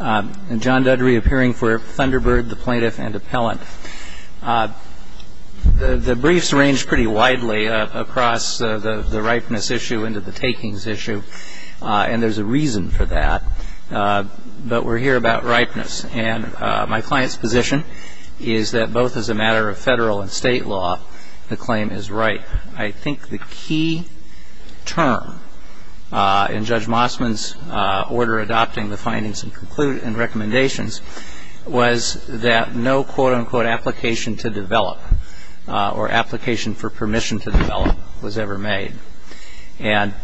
John Dudry appearing for Thunderbird, the Plaintiff and Appellant. The briefs range pretty widely across the ripeness issue into the takings issue. And there's a reason for that. But we're here about ripeness. And my client's position is that both as a matter of federal and state law, the claim is ripe. I think the key term in Judge Mossman's order adopting the findings and recommendations was that no quote-unquote application to develop or application for permission to develop was ever made. And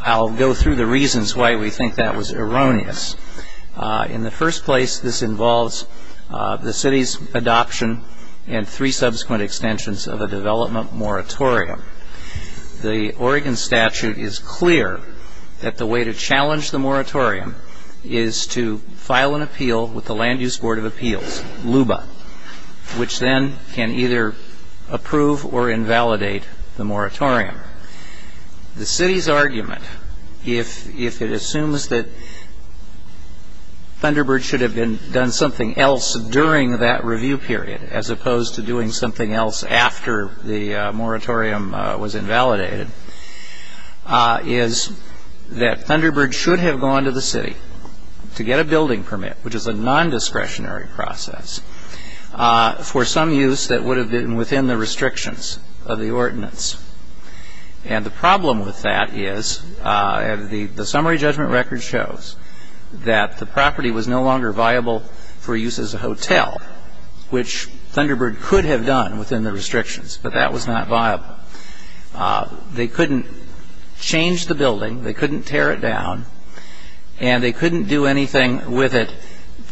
I'll go through the reasons why we think that was erroneous. In the first place, this involves the city's adoption and three subsequent extensions of a development moratorium. The Oregon statute is clear that the way to challenge the moratorium is to file an appeal with the Land Use Board of Appeals, LUBA, which then can either approve or invalidate the moratorium. The city's argument, if it assumes that Thunderbird should have done something else during that review period as opposed to doing something else after the moratorium was invalidated, is that Thunderbird should have gone to the city to get a building permit, which is a non-discretionary process, for some use that would have been within the restrictions of the ordinance. And the problem with that is the summary judgment record shows that the property was no longer viable for use as a hotel, which Thunderbird could have done within the restrictions, but that was not viable. They couldn't change the building, they couldn't tear it down, and they couldn't do anything with it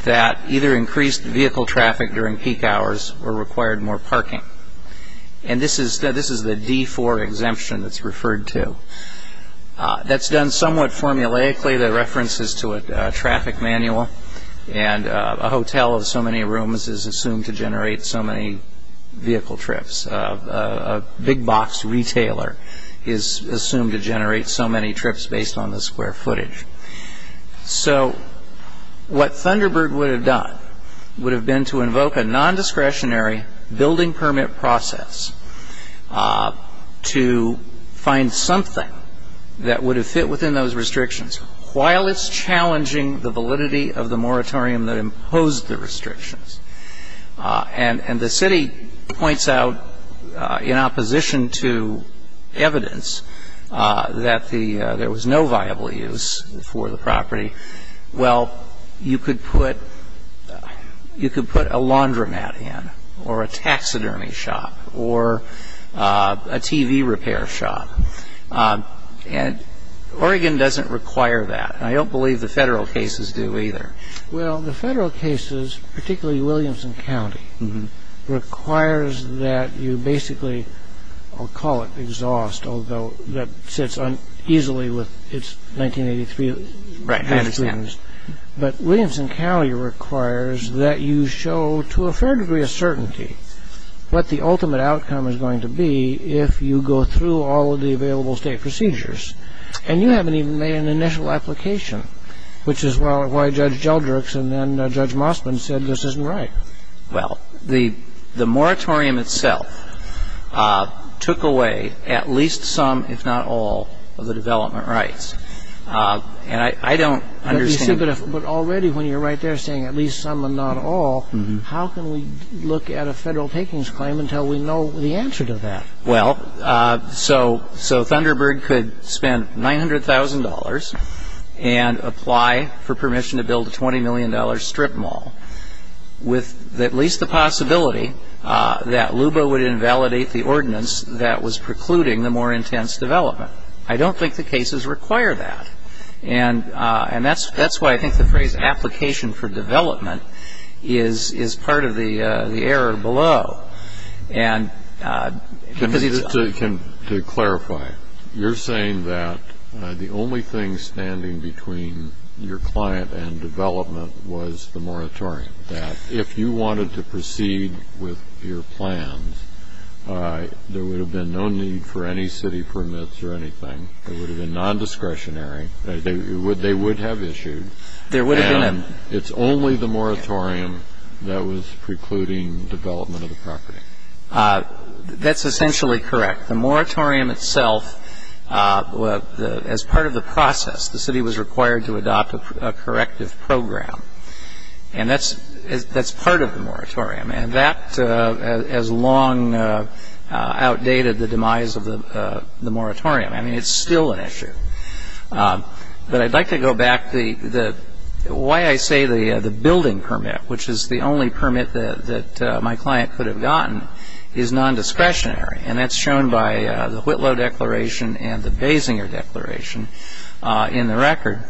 that either increased vehicle traffic during peak hours or required more parking. And this is the D-4 exemption that's referred to. That's done somewhat formulaically. The reference is to a traffic manual, and a hotel of so many rooms is assumed to generate so many vehicle trips. A big box retailer is assumed to generate so many trips based on the square footage. So what Thunderbird would have done would have been to invoke a non-discretionary building permit process to find something that would have fit within those restrictions while it's challenging the validity of the moratorium that imposed the restrictions. And the city points out in opposition to evidence that there was no viable use for the property, well, you could put a laundromat in or a taxidermy shop or a TV repair shop. And Oregon doesn't require that, and I don't believe the Federal cases do either. Well, the Federal cases, particularly Williamson County, requires that you basically, I'll call it exhaust, although that sits uneasily with its 1983 standards. Right, I understand. But Williamson County requires that you show to a fair degree of certainty what the ultimate outcome is going to be if you go through all of the available state procedures. And you haven't even made an initial application, which is why Judge Geldricks and then Judge Mossman said this isn't right. Well, the moratorium itself took away at least some, if not all, of the development rights. And I don't understand. But already when you're right there saying at least some and not all, how can we look at a Federal takings claim until we know the answer to that? Well, so Thunderbird could spend $900,000 and apply for permission to build a $20 million strip mall with at least the possibility that LUBA would invalidate the ordinance that was precluding the more intense development. I don't think the cases require that. And that's why I think the phrase application for development is part of the error below. To clarify, you're saying that the only thing standing between your client and development was the moratorium, that if you wanted to proceed with your plans, there would have been no need for any city permits or anything. It would have been non-discretionary. They would have issued. And it's only the moratorium that was precluding development of the property. That's essentially correct. The moratorium itself, as part of the process, the city was required to adopt a corrective program. And that's part of the moratorium. And that has long outdated the demise of the moratorium. I mean, it's still an issue. But I'd like to go back. The way I say the building permit, which is the only permit that my client could have gotten, is non-discretionary. And that's shown by the Whitlow Declaration and the Basinger Declaration in the record.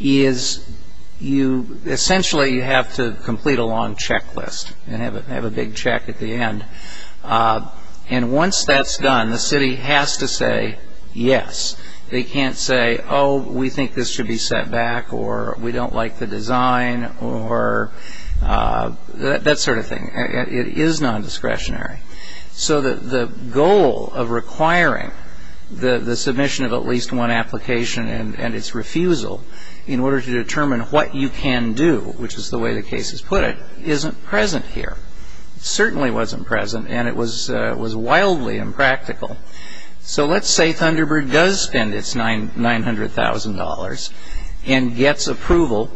Essentially, you have to complete a long checklist and have a big check at the end. And once that's done, the city has to say yes. They can't say, oh, we think this should be set back or we don't like the design or that sort of thing. It is non-discretionary. So the goal of requiring the submission of at least one application and its refusal in order to determine what you can do, which is the way the case is put, isn't present here. It certainly wasn't present. And it was wildly impractical. So let's say Thunderbird does spend its $900,000 and gets approval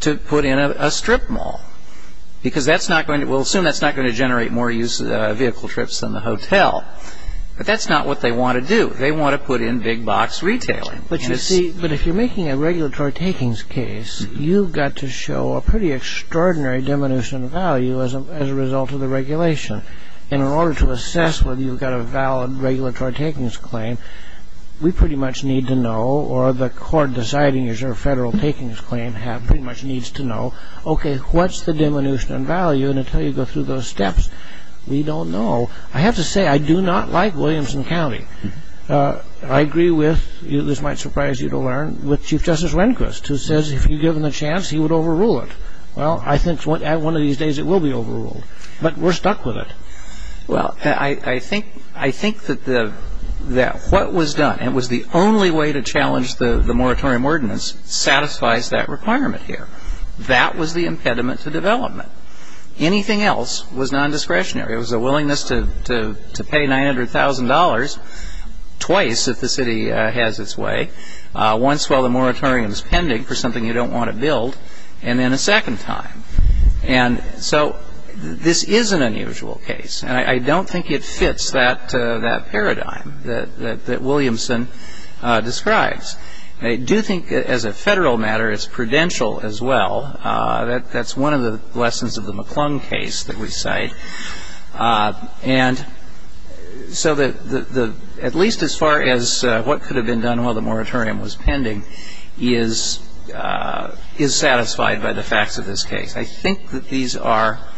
to put in a strip mall, because we'll assume that's not going to generate more vehicle trips than the hotel. But that's not what they want to do. They want to put in big box retailing. But you see, if you're making a regulatory takings case, you've got to show a pretty extraordinary diminution in value as a result of the regulation in order to assess whether you've got a valid regulatory takings claim. We pretty much need to know, or the court deciding is your federal takings claim pretty much needs to know, OK, what's the diminution in value? And until you go through those steps, we don't know. I have to say I do not like Williamson County. I agree with, this might surprise you to learn, with Chief Justice Rehnquist, who says if you give him a chance, he would overrule it. Well, I think at one of these days it will be overruled. But we're stuck with it. Well, I think that what was done, and it was the only way to challenge the moratorium ordinance, satisfies that requirement here. That was the impediment to development. Anything else was nondiscretionary. It was a willingness to pay $900,000 twice if the city has its way, once while the moratorium is pending for something you don't want to build, and then a second time. And so this is an unusual case. And I don't think it fits that paradigm that Williamson describes. I do think as a federal matter it's prudential as well. That's one of the lessons of the McClung case that we cite. And so at least as far as what could have been done while the moratorium was pending is satisfied by the facts of this case. I think that these are –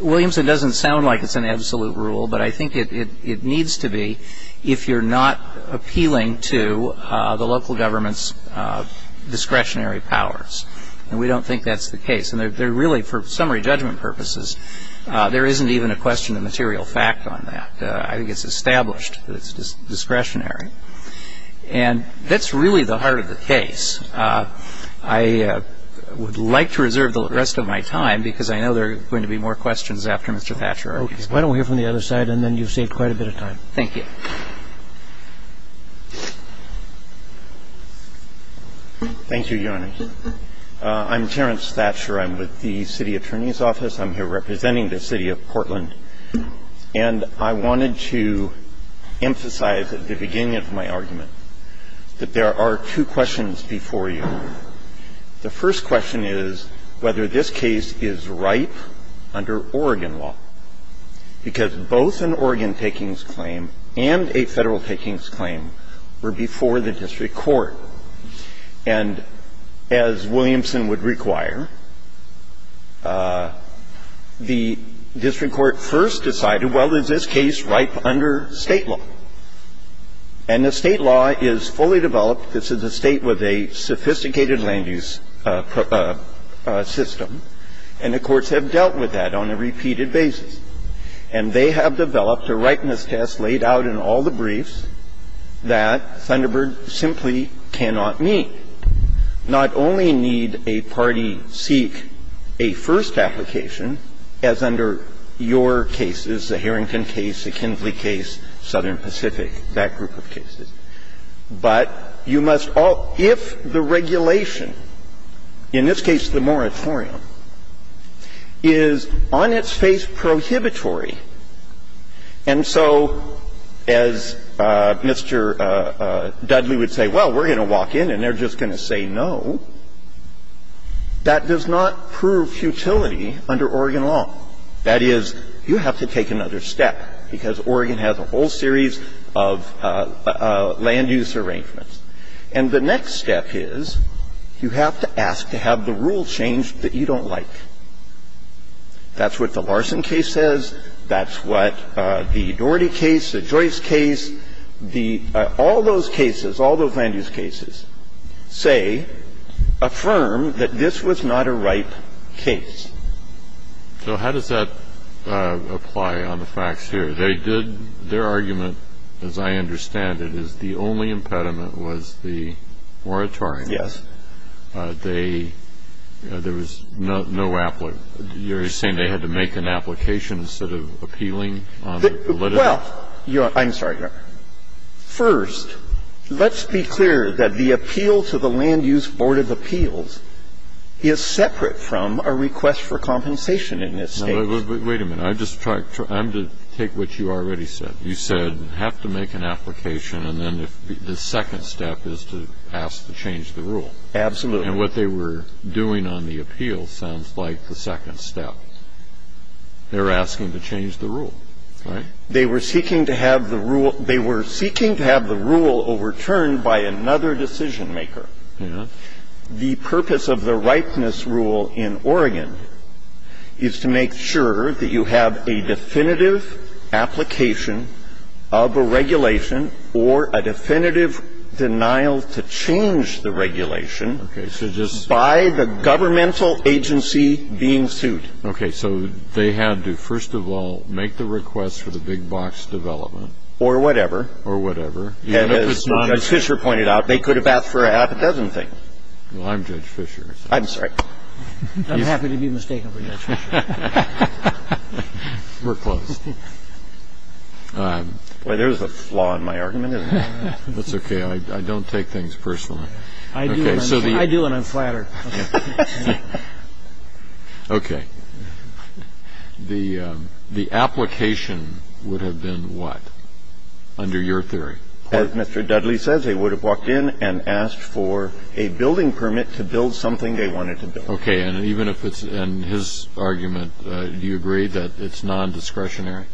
Williamson doesn't sound like it's an absolute rule, but I think it needs to be if you're not appealing to the local government's discretionary powers. And we don't think that's the case. And they're really, for summary judgment purposes, there isn't even a question of material fact on that. I think it's established that it's discretionary. And that's really the heart of the case. I would like to reserve the rest of my time because I know there are going to be more questions after Mr. Thatcher argues. Okay. Why don't we hear from the other side, and then you've saved quite a bit of time. Thank you. Thank you, Your Honor. I'm Terence Thatcher. I'm with the City Attorney's Office. I'm here representing the City of Portland. And I wanted to emphasize at the beginning of my argument that there are two questions before you. The first question is whether this case is ripe under Oregon law, because both an Oregon takings claim and a Federal takings claim were before the district court. And as Williamson would require, the district court first decided, well, is this case ripe under State law? And the State law is fully developed. This is a State with a sophisticated land use system. And the courts have dealt with that on a repeated basis. And they have developed a ripeness test laid out in all the briefs that Thunderbird simply cannot meet, not only need a party seek a first application, as under your cases, the Harrington case, the Kinsley case, Southern Pacific, that group of cases. But you must all ‑‑ if the regulation, in this case the moratorium, is on its face to say, well, we're going to walk in and they're just going to say no, that does not prove futility under Oregon law. That is, you have to take another step, because Oregon has a whole series of land use arrangements. And the next step is you have to ask to have the rule changed that you don't like. That's what the Larson case says. That's what the Doherty case, the Joyce case, the ‑‑ all those cases, all those land use cases, say, affirm that this was not a ripe case. So how does that apply on the facts here? They did ‑‑ their argument, as I understand it, is the only impediment was the moratorium. Yes. And I understand that the ‑‑ the Larson case, they ‑‑ there was no ‑‑ you're saying they had to make an application instead of appealing on the letter? Well, I'm sorry, Your Honor. First, let's be clear that the appeal to the Land Use Board of Appeals is separate from a request for compensation in this case. Wait a minute. I'm just trying to take what you already said. You said have to make an application and then the second step is to ask to change the rule. Absolutely. And what they were doing on the appeal sounds like the second step. They're asking to change the rule, right? They were seeking to have the rule overturned by another decision maker. Yes. The purpose of the ripeness rule in Oregon is to make sure that you have a definitive application of a regulation or a definitive denial to change the regulation by the governmental agency being sued. Okay. So they had to, first of all, make the request for the big box development. Or whatever. Or whatever. And as Judge Fischer pointed out, they could have asked for a half a dozen things. Well, I'm Judge Fischer. I'm sorry. I'm happy to be mistaken for Judge Fischer. We're close. There's a flaw in my argument, isn't there? That's okay. I don't take things personally. I do, and I'm flattered. Okay. The application would have been what, under your theory? As Mr. Dudley says, they would have walked in and asked for a building permit to build something they wanted to build. Okay. And even if it's in his argument, do you agree that it's non-discretionary?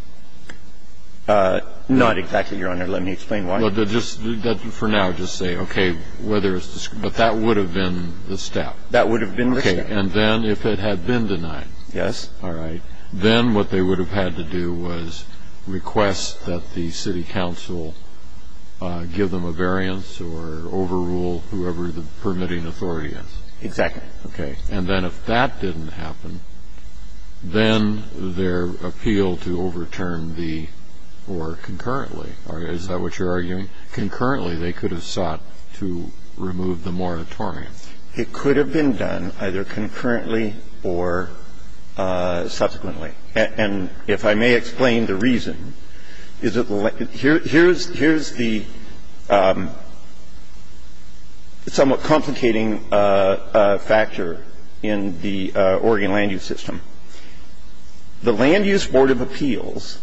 Not exactly, Your Honor. Let me explain why. For now, just say, okay, whether it's discretionary. But that would have been the step. That would have been the step. And then if it had been denied. Yes. All right. Then what they would have had to do was request that the city council give them a variance or overrule whoever the permitting authority is. Exactly. Okay. And then if that didn't happen, then their appeal to overturn the or concurrently, is that what you're arguing? Concurrently, they could have sought to remove the moratorium. It could have been done either concurrently or subsequently. And if I may explain the reason, here's the somewhat complicating factor in the Oregon land use system. The Land Use Board of Appeals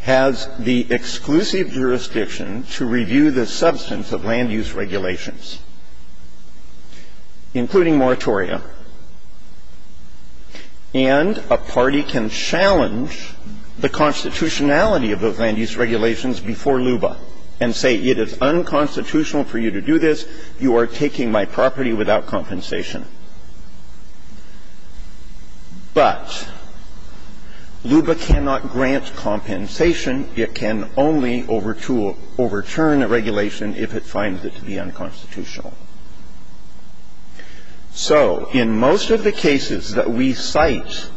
has the exclusive jurisdiction to review the substance of land use regulations, including moratorium. And a party can challenge the constitutionality of those land use regulations before LUBA and say it is unconstitutional for you to do this, you are taking my property without compensation. But LUBA cannot grant compensation. It can only overturn a regulation if it finds it to be unconstitutional. So in most of the cases that we cite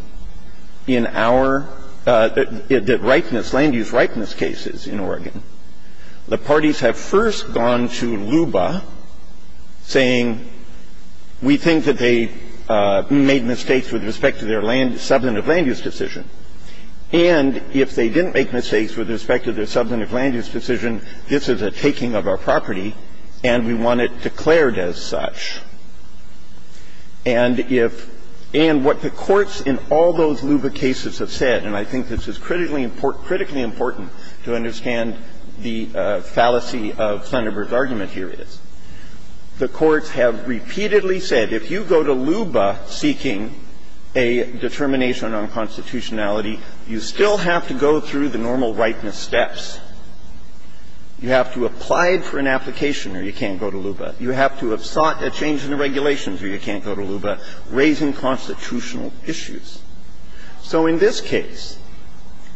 in our rightness, land use rightness cases in Oregon, the parties have first gone to LUBA saying we think that they made mistakes with respect to their substantive land use decision, and if they didn't make mistakes with respect to their substantive land use decision, this is a taking of our property and we want it declared as such. And if and what the courts in all those LUBA cases have said, and I think this is critically important to understand the fallacy of Thunderbird's argument here is, the courts have repeatedly said if you go to LUBA seeking a determination on constitutionality, you still have to go through the normal rightness steps. You have to apply for an application or you can't go to LUBA. You have to have sought a change in the regulations or you can't go to LUBA, raising constitutional issues. So in this case,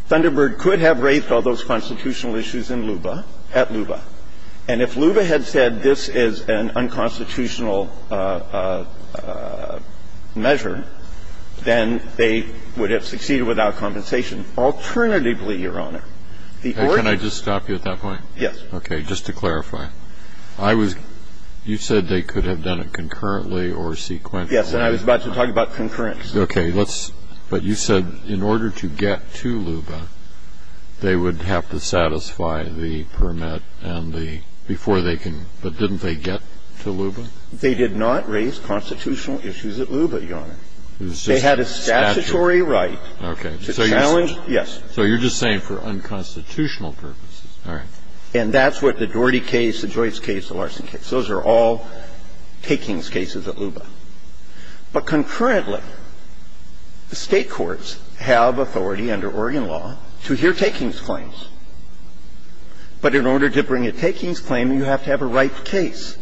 Thunderbird could have raised all those constitutional issues in LUBA at LUBA, and if LUBA had said this is an unconstitutional measure, then they would have succeeded without compensation. Alternatively, Your Honor, the court can't Can I just stop you at that point? Yes. Okay. Just to clarify. I was you said they could have done it concurrently or sequentially. And I was about to talk about concurrent. Okay. But you said in order to get to LUBA, they would have to satisfy the permit and the, before they can, but didn't they get to LUBA? They did not raise constitutional issues at LUBA, Your Honor. They had a statutory right to challenge, yes. So you're just saying for unconstitutional purposes. All right. And that's what the Doherty case, the Joyce case, the Larson case, those are all takings cases at LUBA. But concurrently, the State courts have authority under Oregon law to hear takings claims. But in order to bring a takings claim, you have to have a ripe case.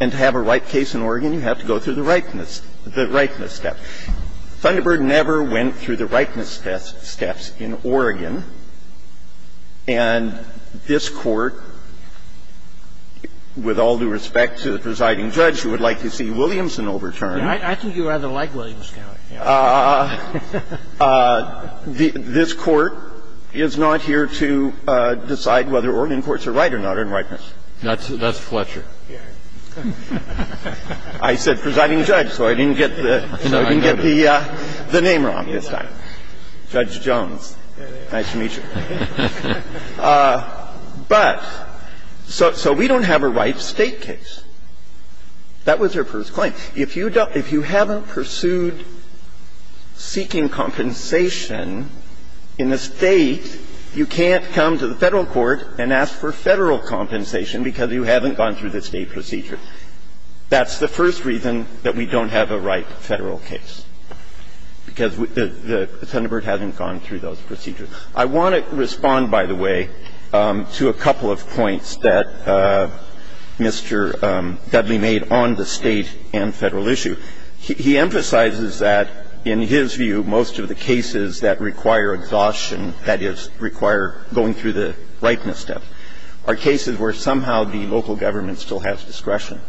And to have a ripe case in Oregon, you have to go through the ripeness step. Thunderbird never went through the ripeness steps in Oregon. And this Court, with all due respect to the presiding judge, who would like to see Williamson overturned. I think you rather like Williamson. This Court is not here to decide whether Oregon courts are right or not in ripeness. That's Fletcher. I said presiding judge, so I didn't get the name wrong this time. Judge Jones. Nice to meet you. But so we don't have a ripe State case. That was your first claim. If you haven't pursued seeking compensation in the State, you can't come to the Federal court and ask for Federal compensation because you haven't gone through the State procedure. That's the first reason that we don't have a ripe Federal case, because Thunderbird hasn't gone through those procedures. I want to respond, by the way, to a couple of points that Mr. Dudley made on the State and Federal issue. He emphasizes that, in his view, most of the cases that require exhaustion, that is, require going through the ripeness step, are cases where somehow the local government still has discretion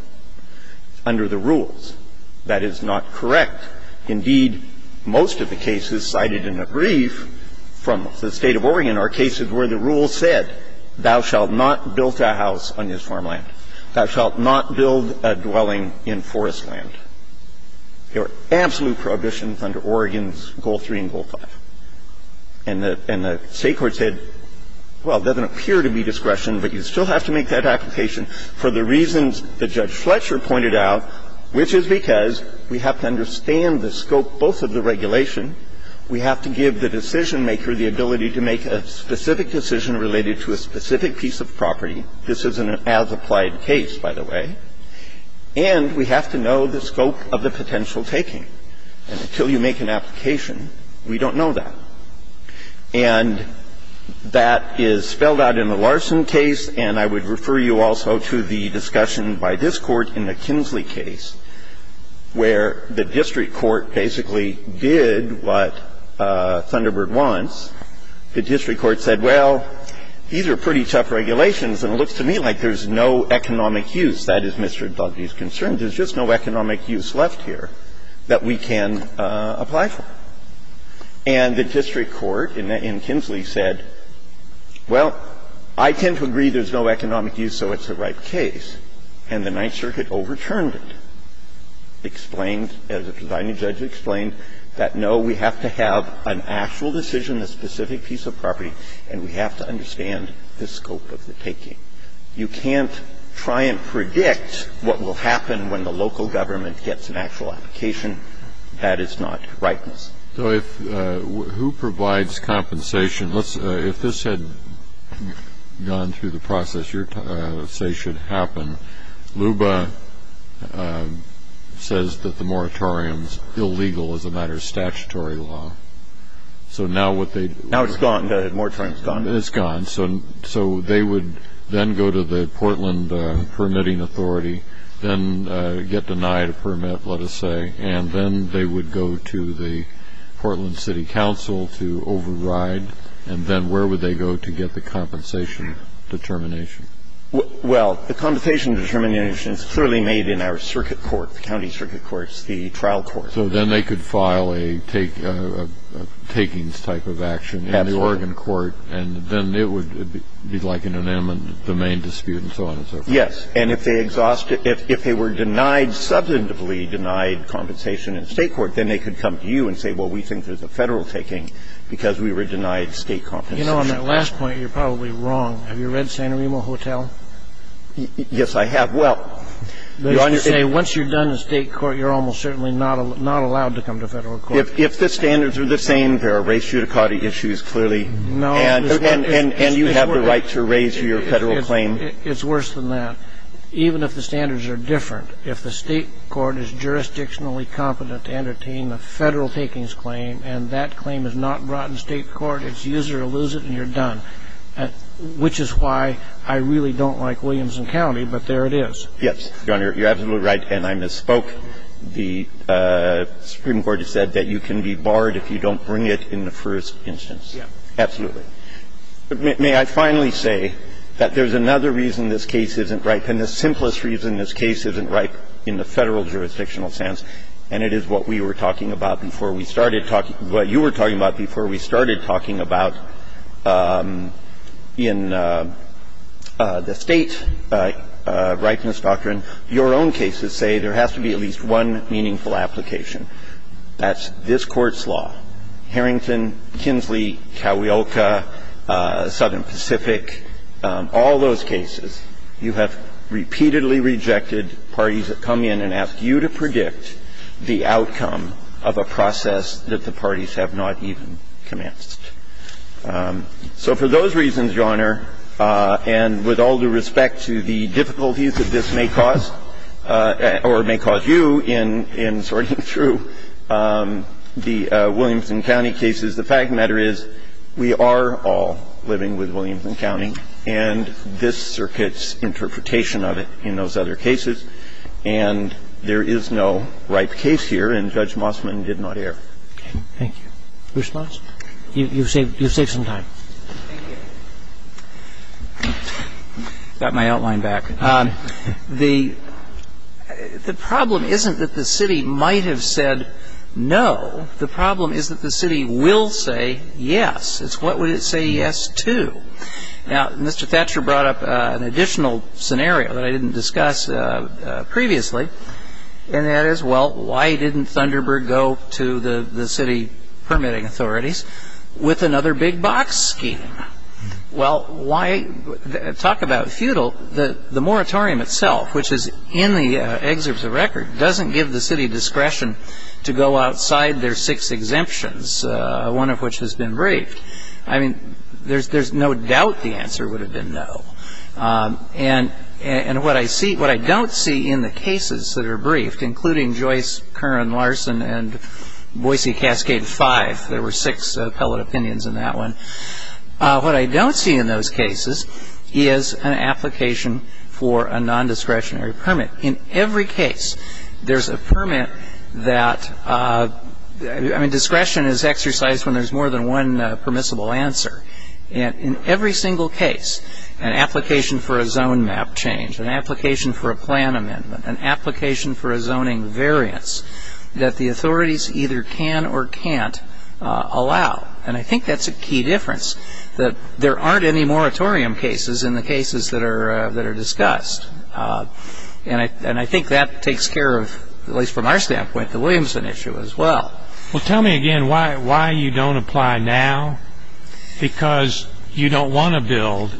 under the rules. That is not correct. Indeed, most of the cases cited in a brief from the State of Oregon are cases where the rule said, thou shalt not build a house on this farmland. Thou shalt not build a dwelling in forest land. There are absolute prohibitions under Oregon's Goal 3 and Goal 5. And the State court said, well, there doesn't appear to be discretion, but you still have to make that application for the reasons that Judge Fletcher pointed out, which is because we have to understand the scope both of the regulation, we have to give the decision-maker the ability to make a specific decision related to a specific piece of property. This is an as-applied case, by the way. And we have to know the scope of the potential taking. And until you make an application, we don't know that. And that is spelled out in the Larson case, and I would refer you also to the discussion by this Court in the Kinsley case, where the district court basically did what Thunderbird wants. The district court said, well, these are pretty tough regulations, and it looks to me like there's no economic use. That is Mr. Dugby's concern. There's just no economic use left here that we can apply for. And the district court in Kinsley said, well, I tend to agree there's no economic use, so it's the right case. And the Ninth Circuit overturned it, explained, as the presiding judge explained, that, no, we have to have an actual decision, a specific piece of property, and we have to understand the scope of the taking. You can't try and predict what will happen when the local government gets an actual application. That is not rightness. Kennedy. So if who provides compensation? If this had gone through the process you say should happen, LUBA says that the moratorium's illegal as a matter of statutory law. So now what they'd do is go to the Portland Permitting Authority, then get denied a permit, let us say, and then they would go to the Portland City Council to override, and then where would they go to get the compensation determination? Well, the compensation determination is clearly made in our circuit court, the county circuit courts, the trial courts. So then they could file a takings type of action in the Oregon court, and then it would be like an inanimate domain dispute and so on and so forth. Yes. And if they were substantively denied compensation in state court, then they could come to you and say, well, we think there's a Federal taking because we were denied state compensation. You know, on that last point, you're probably wrong. Have you read Santorini Hotel? Yes, I have. Well, Your Honor, it's to say once you're done in state court, you're almost certainly not allowed to come to Federal court. If the standards are the same, there are race judicata issues clearly. No. And you have the right to raise your Federal claim. It's worse than that. Even if the standards are different, if the state court is jurisdictionally competent to entertain a Federal takings claim and that claim is not brought in state court, it's use it or lose it and you're done, which is why I really don't like Williamson County, but there it is. Yes, Your Honor, you're absolutely right, and I misspoke. The Supreme Court has said that you can be barred if you don't bring it in the first instance. Yes. Absolutely. But may I finally say that there's another reason this case isn't ripe, and the simplest reason this case isn't ripe in the Federal jurisdictional sense, and it is what we were talking about before we started talking – what you were talking about before we started talking about in the state ripeness doctrine. Your own cases say there has to be at least one meaningful application. That's this Court's law. Harrington, Kinsley, Cuyahoga, Southern Pacific, all those cases, you have repeatedly rejected parties that come in and ask you to predict the outcome of a process that the parties have not even commenced. So for those reasons, Your Honor, and with all due respect to the difficulties that this may cause, or may cause you in sorting through the Williamson County cases, the fact of the matter is we are all living with Williamson County and this And so we are all living with Williamson County and those other cases, and there is no ripe case here, and Judge Mossman did not err. Thank you. Your response? You've saved some time. Thank you. I've got my outline back. The problem isn't that the city might have said no. The problem is that the city will say yes. It's what would it say yes to. Now, Mr. Thatcher brought up an additional scenario that I didn't discuss previously, and that is, well, why didn't Thunderbird go to the city permitting authorities with another big box scheme? Well, talk about futile. The moratorium itself, which is in the excerpts of record, doesn't give the city discretion to go outside their six exemptions, one of which has been briefed. I mean, there's no doubt the answer would have been no. And what I don't see in the cases that are briefed, including Joyce, Curran, Larson, and Boise Cascade 5, there were six appellate opinions in that one, what I don't see in those cases is an application for a nondiscretionary permit. In every case, there's a permit that, I mean, discretion is exercised when there's more than one permissible answer. And in every single case, an application for a zone map change, an application for a plan amendment, an application for a zoning variance that the authorities either can or can't allow. And I think that's a key difference, that there aren't any moratorium cases in the cases that are discussed. And I think that takes care of, at least from our standpoint, the Williamson issue as well. Well, tell me again why you don't apply now? Because you don't want to build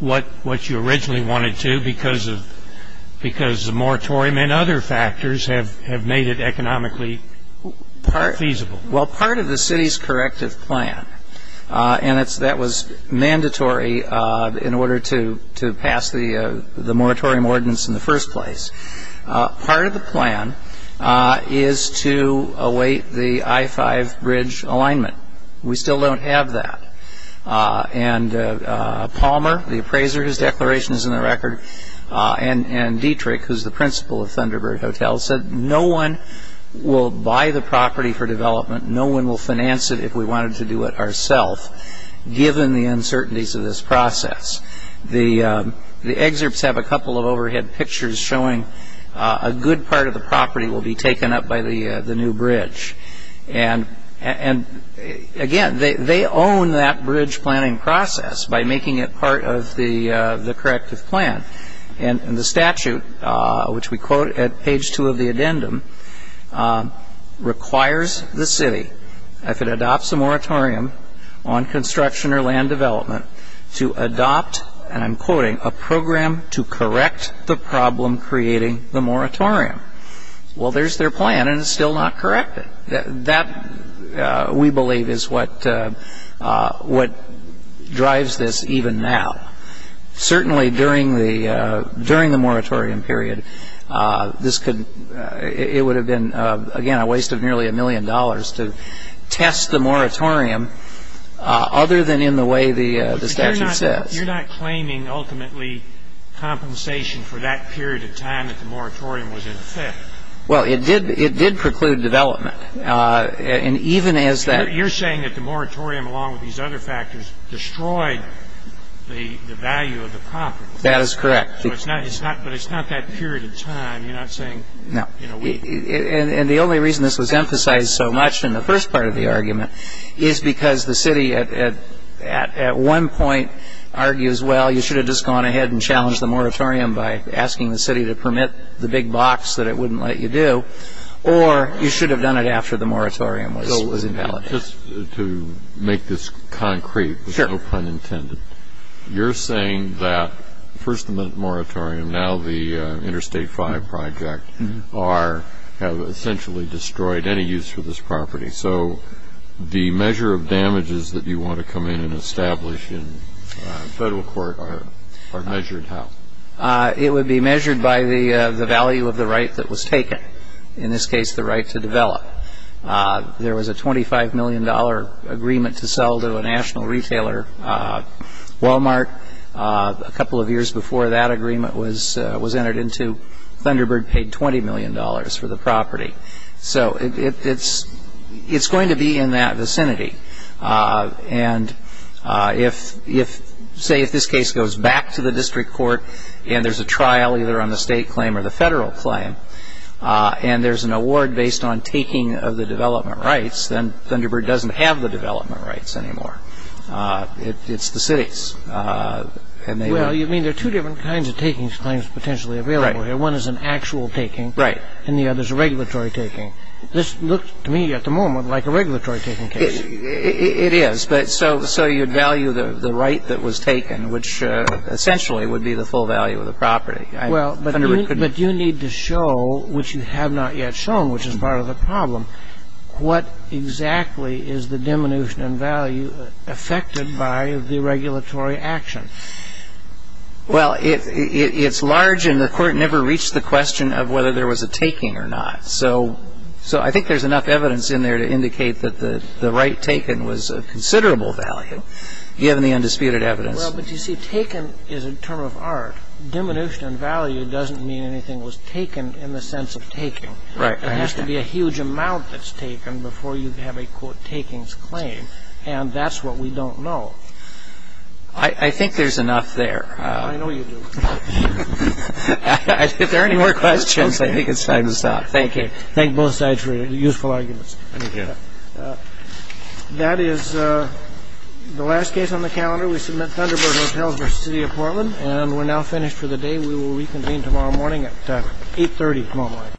what you originally wanted to because the moratorium and other factors have made it economically feasible. Well, part of the city's corrective plan, and that was mandatory in order to pass the moratorium ordinance in the first place. Part of the plan is to await the I-5 bridge alignment. We still don't have that. And Palmer, the appraiser, his declaration is in the record, and Dietrich, who's the principal of Thunderbird Hotel, said no one will buy the property for development, no one will finance it if we wanted to do it ourself, given the uncertainties of this process. The excerpts have a couple of overhead pictures showing a good part of the property will be taken up by the new bridge. And again, they own that bridge planning process by making it part of the corrective plan. And the statute, which we quote at page two of the addendum, requires the city, if it adopts a moratorium on construction or land development, to adopt, and I'm quoting, a program to correct the problem creating the moratorium. Well, there's their plan, and it's still not corrected. That, we believe, is what drives this even now. Certainly, during the moratorium period, it would have been, again, a waste of nearly a million dollars to test the moratorium, other than in the way the statute says. You're not claiming, ultimately, compensation for that period of time that the moratorium was in effect. Well, it did preclude development. And even as that- You're saying that the moratorium, along with these other factors, destroyed the value of the property. That is correct. But it's not that period of time. You're not saying- No. And the only reason this was emphasized so much in the first part of the argument is because the city, at one point, argues, well, you should have just gone ahead and challenged the moratorium by asking the city to permit the big box that it wouldn't let you do. Or you should have done it after the moratorium was invalidated. Just to make this concrete, with no pun intended, you're saying that first the moratorium, now the Interstate 5 project, have essentially destroyed any use for this property. So the measure of damages that you want to come in and establish in federal court are measured how? It would be measured by the value of the right that was taken. In this case, the right to develop. There was a $25 million agreement to sell to a national retailer, Walmart. A couple of years before that agreement was entered into, Thunderbird paid $20 million for the property. So it's going to be in that vicinity. And say if this case goes back to the district court, and there's a trial either on the state claim or the federal claim, and there's an award based on taking of the development rights, then Thunderbird doesn't have the development rights anymore. It's the city's. Well, you mean there are two different kinds of takings claims potentially available here. One is an actual taking, and the other is a regulatory taking. This looks to me at the moment like a regulatory taking case. It is. So you'd value the right that was taken, which essentially would be the full value of the property. But you need to show, which you have not yet shown, which is part of the problem, what exactly is the diminution in value affected by the regulatory action? Well, it's large, and the court never reached the question of whether there was a taking or not. So I think there's enough evidence in there to indicate that the right taken was of considerable value, given the undisputed evidence. Well, but you see, taken is a term of art. Diminution in value doesn't mean anything was taken in the sense of taking. Right. There has to be a huge amount that's taken before you have a, quote, takings claim. And that's what we don't know. I think there's enough there. I know you do. If there are any more questions, I think it's time to stop. Thank you. Thank both sides for your useful arguments. Thank you. That is the last case on the calendar. We submit Thunderbird Hotels v. City of Portland. And we're now finished for the day. We will reconvene tomorrow morning at 8.30 tomorrow morning.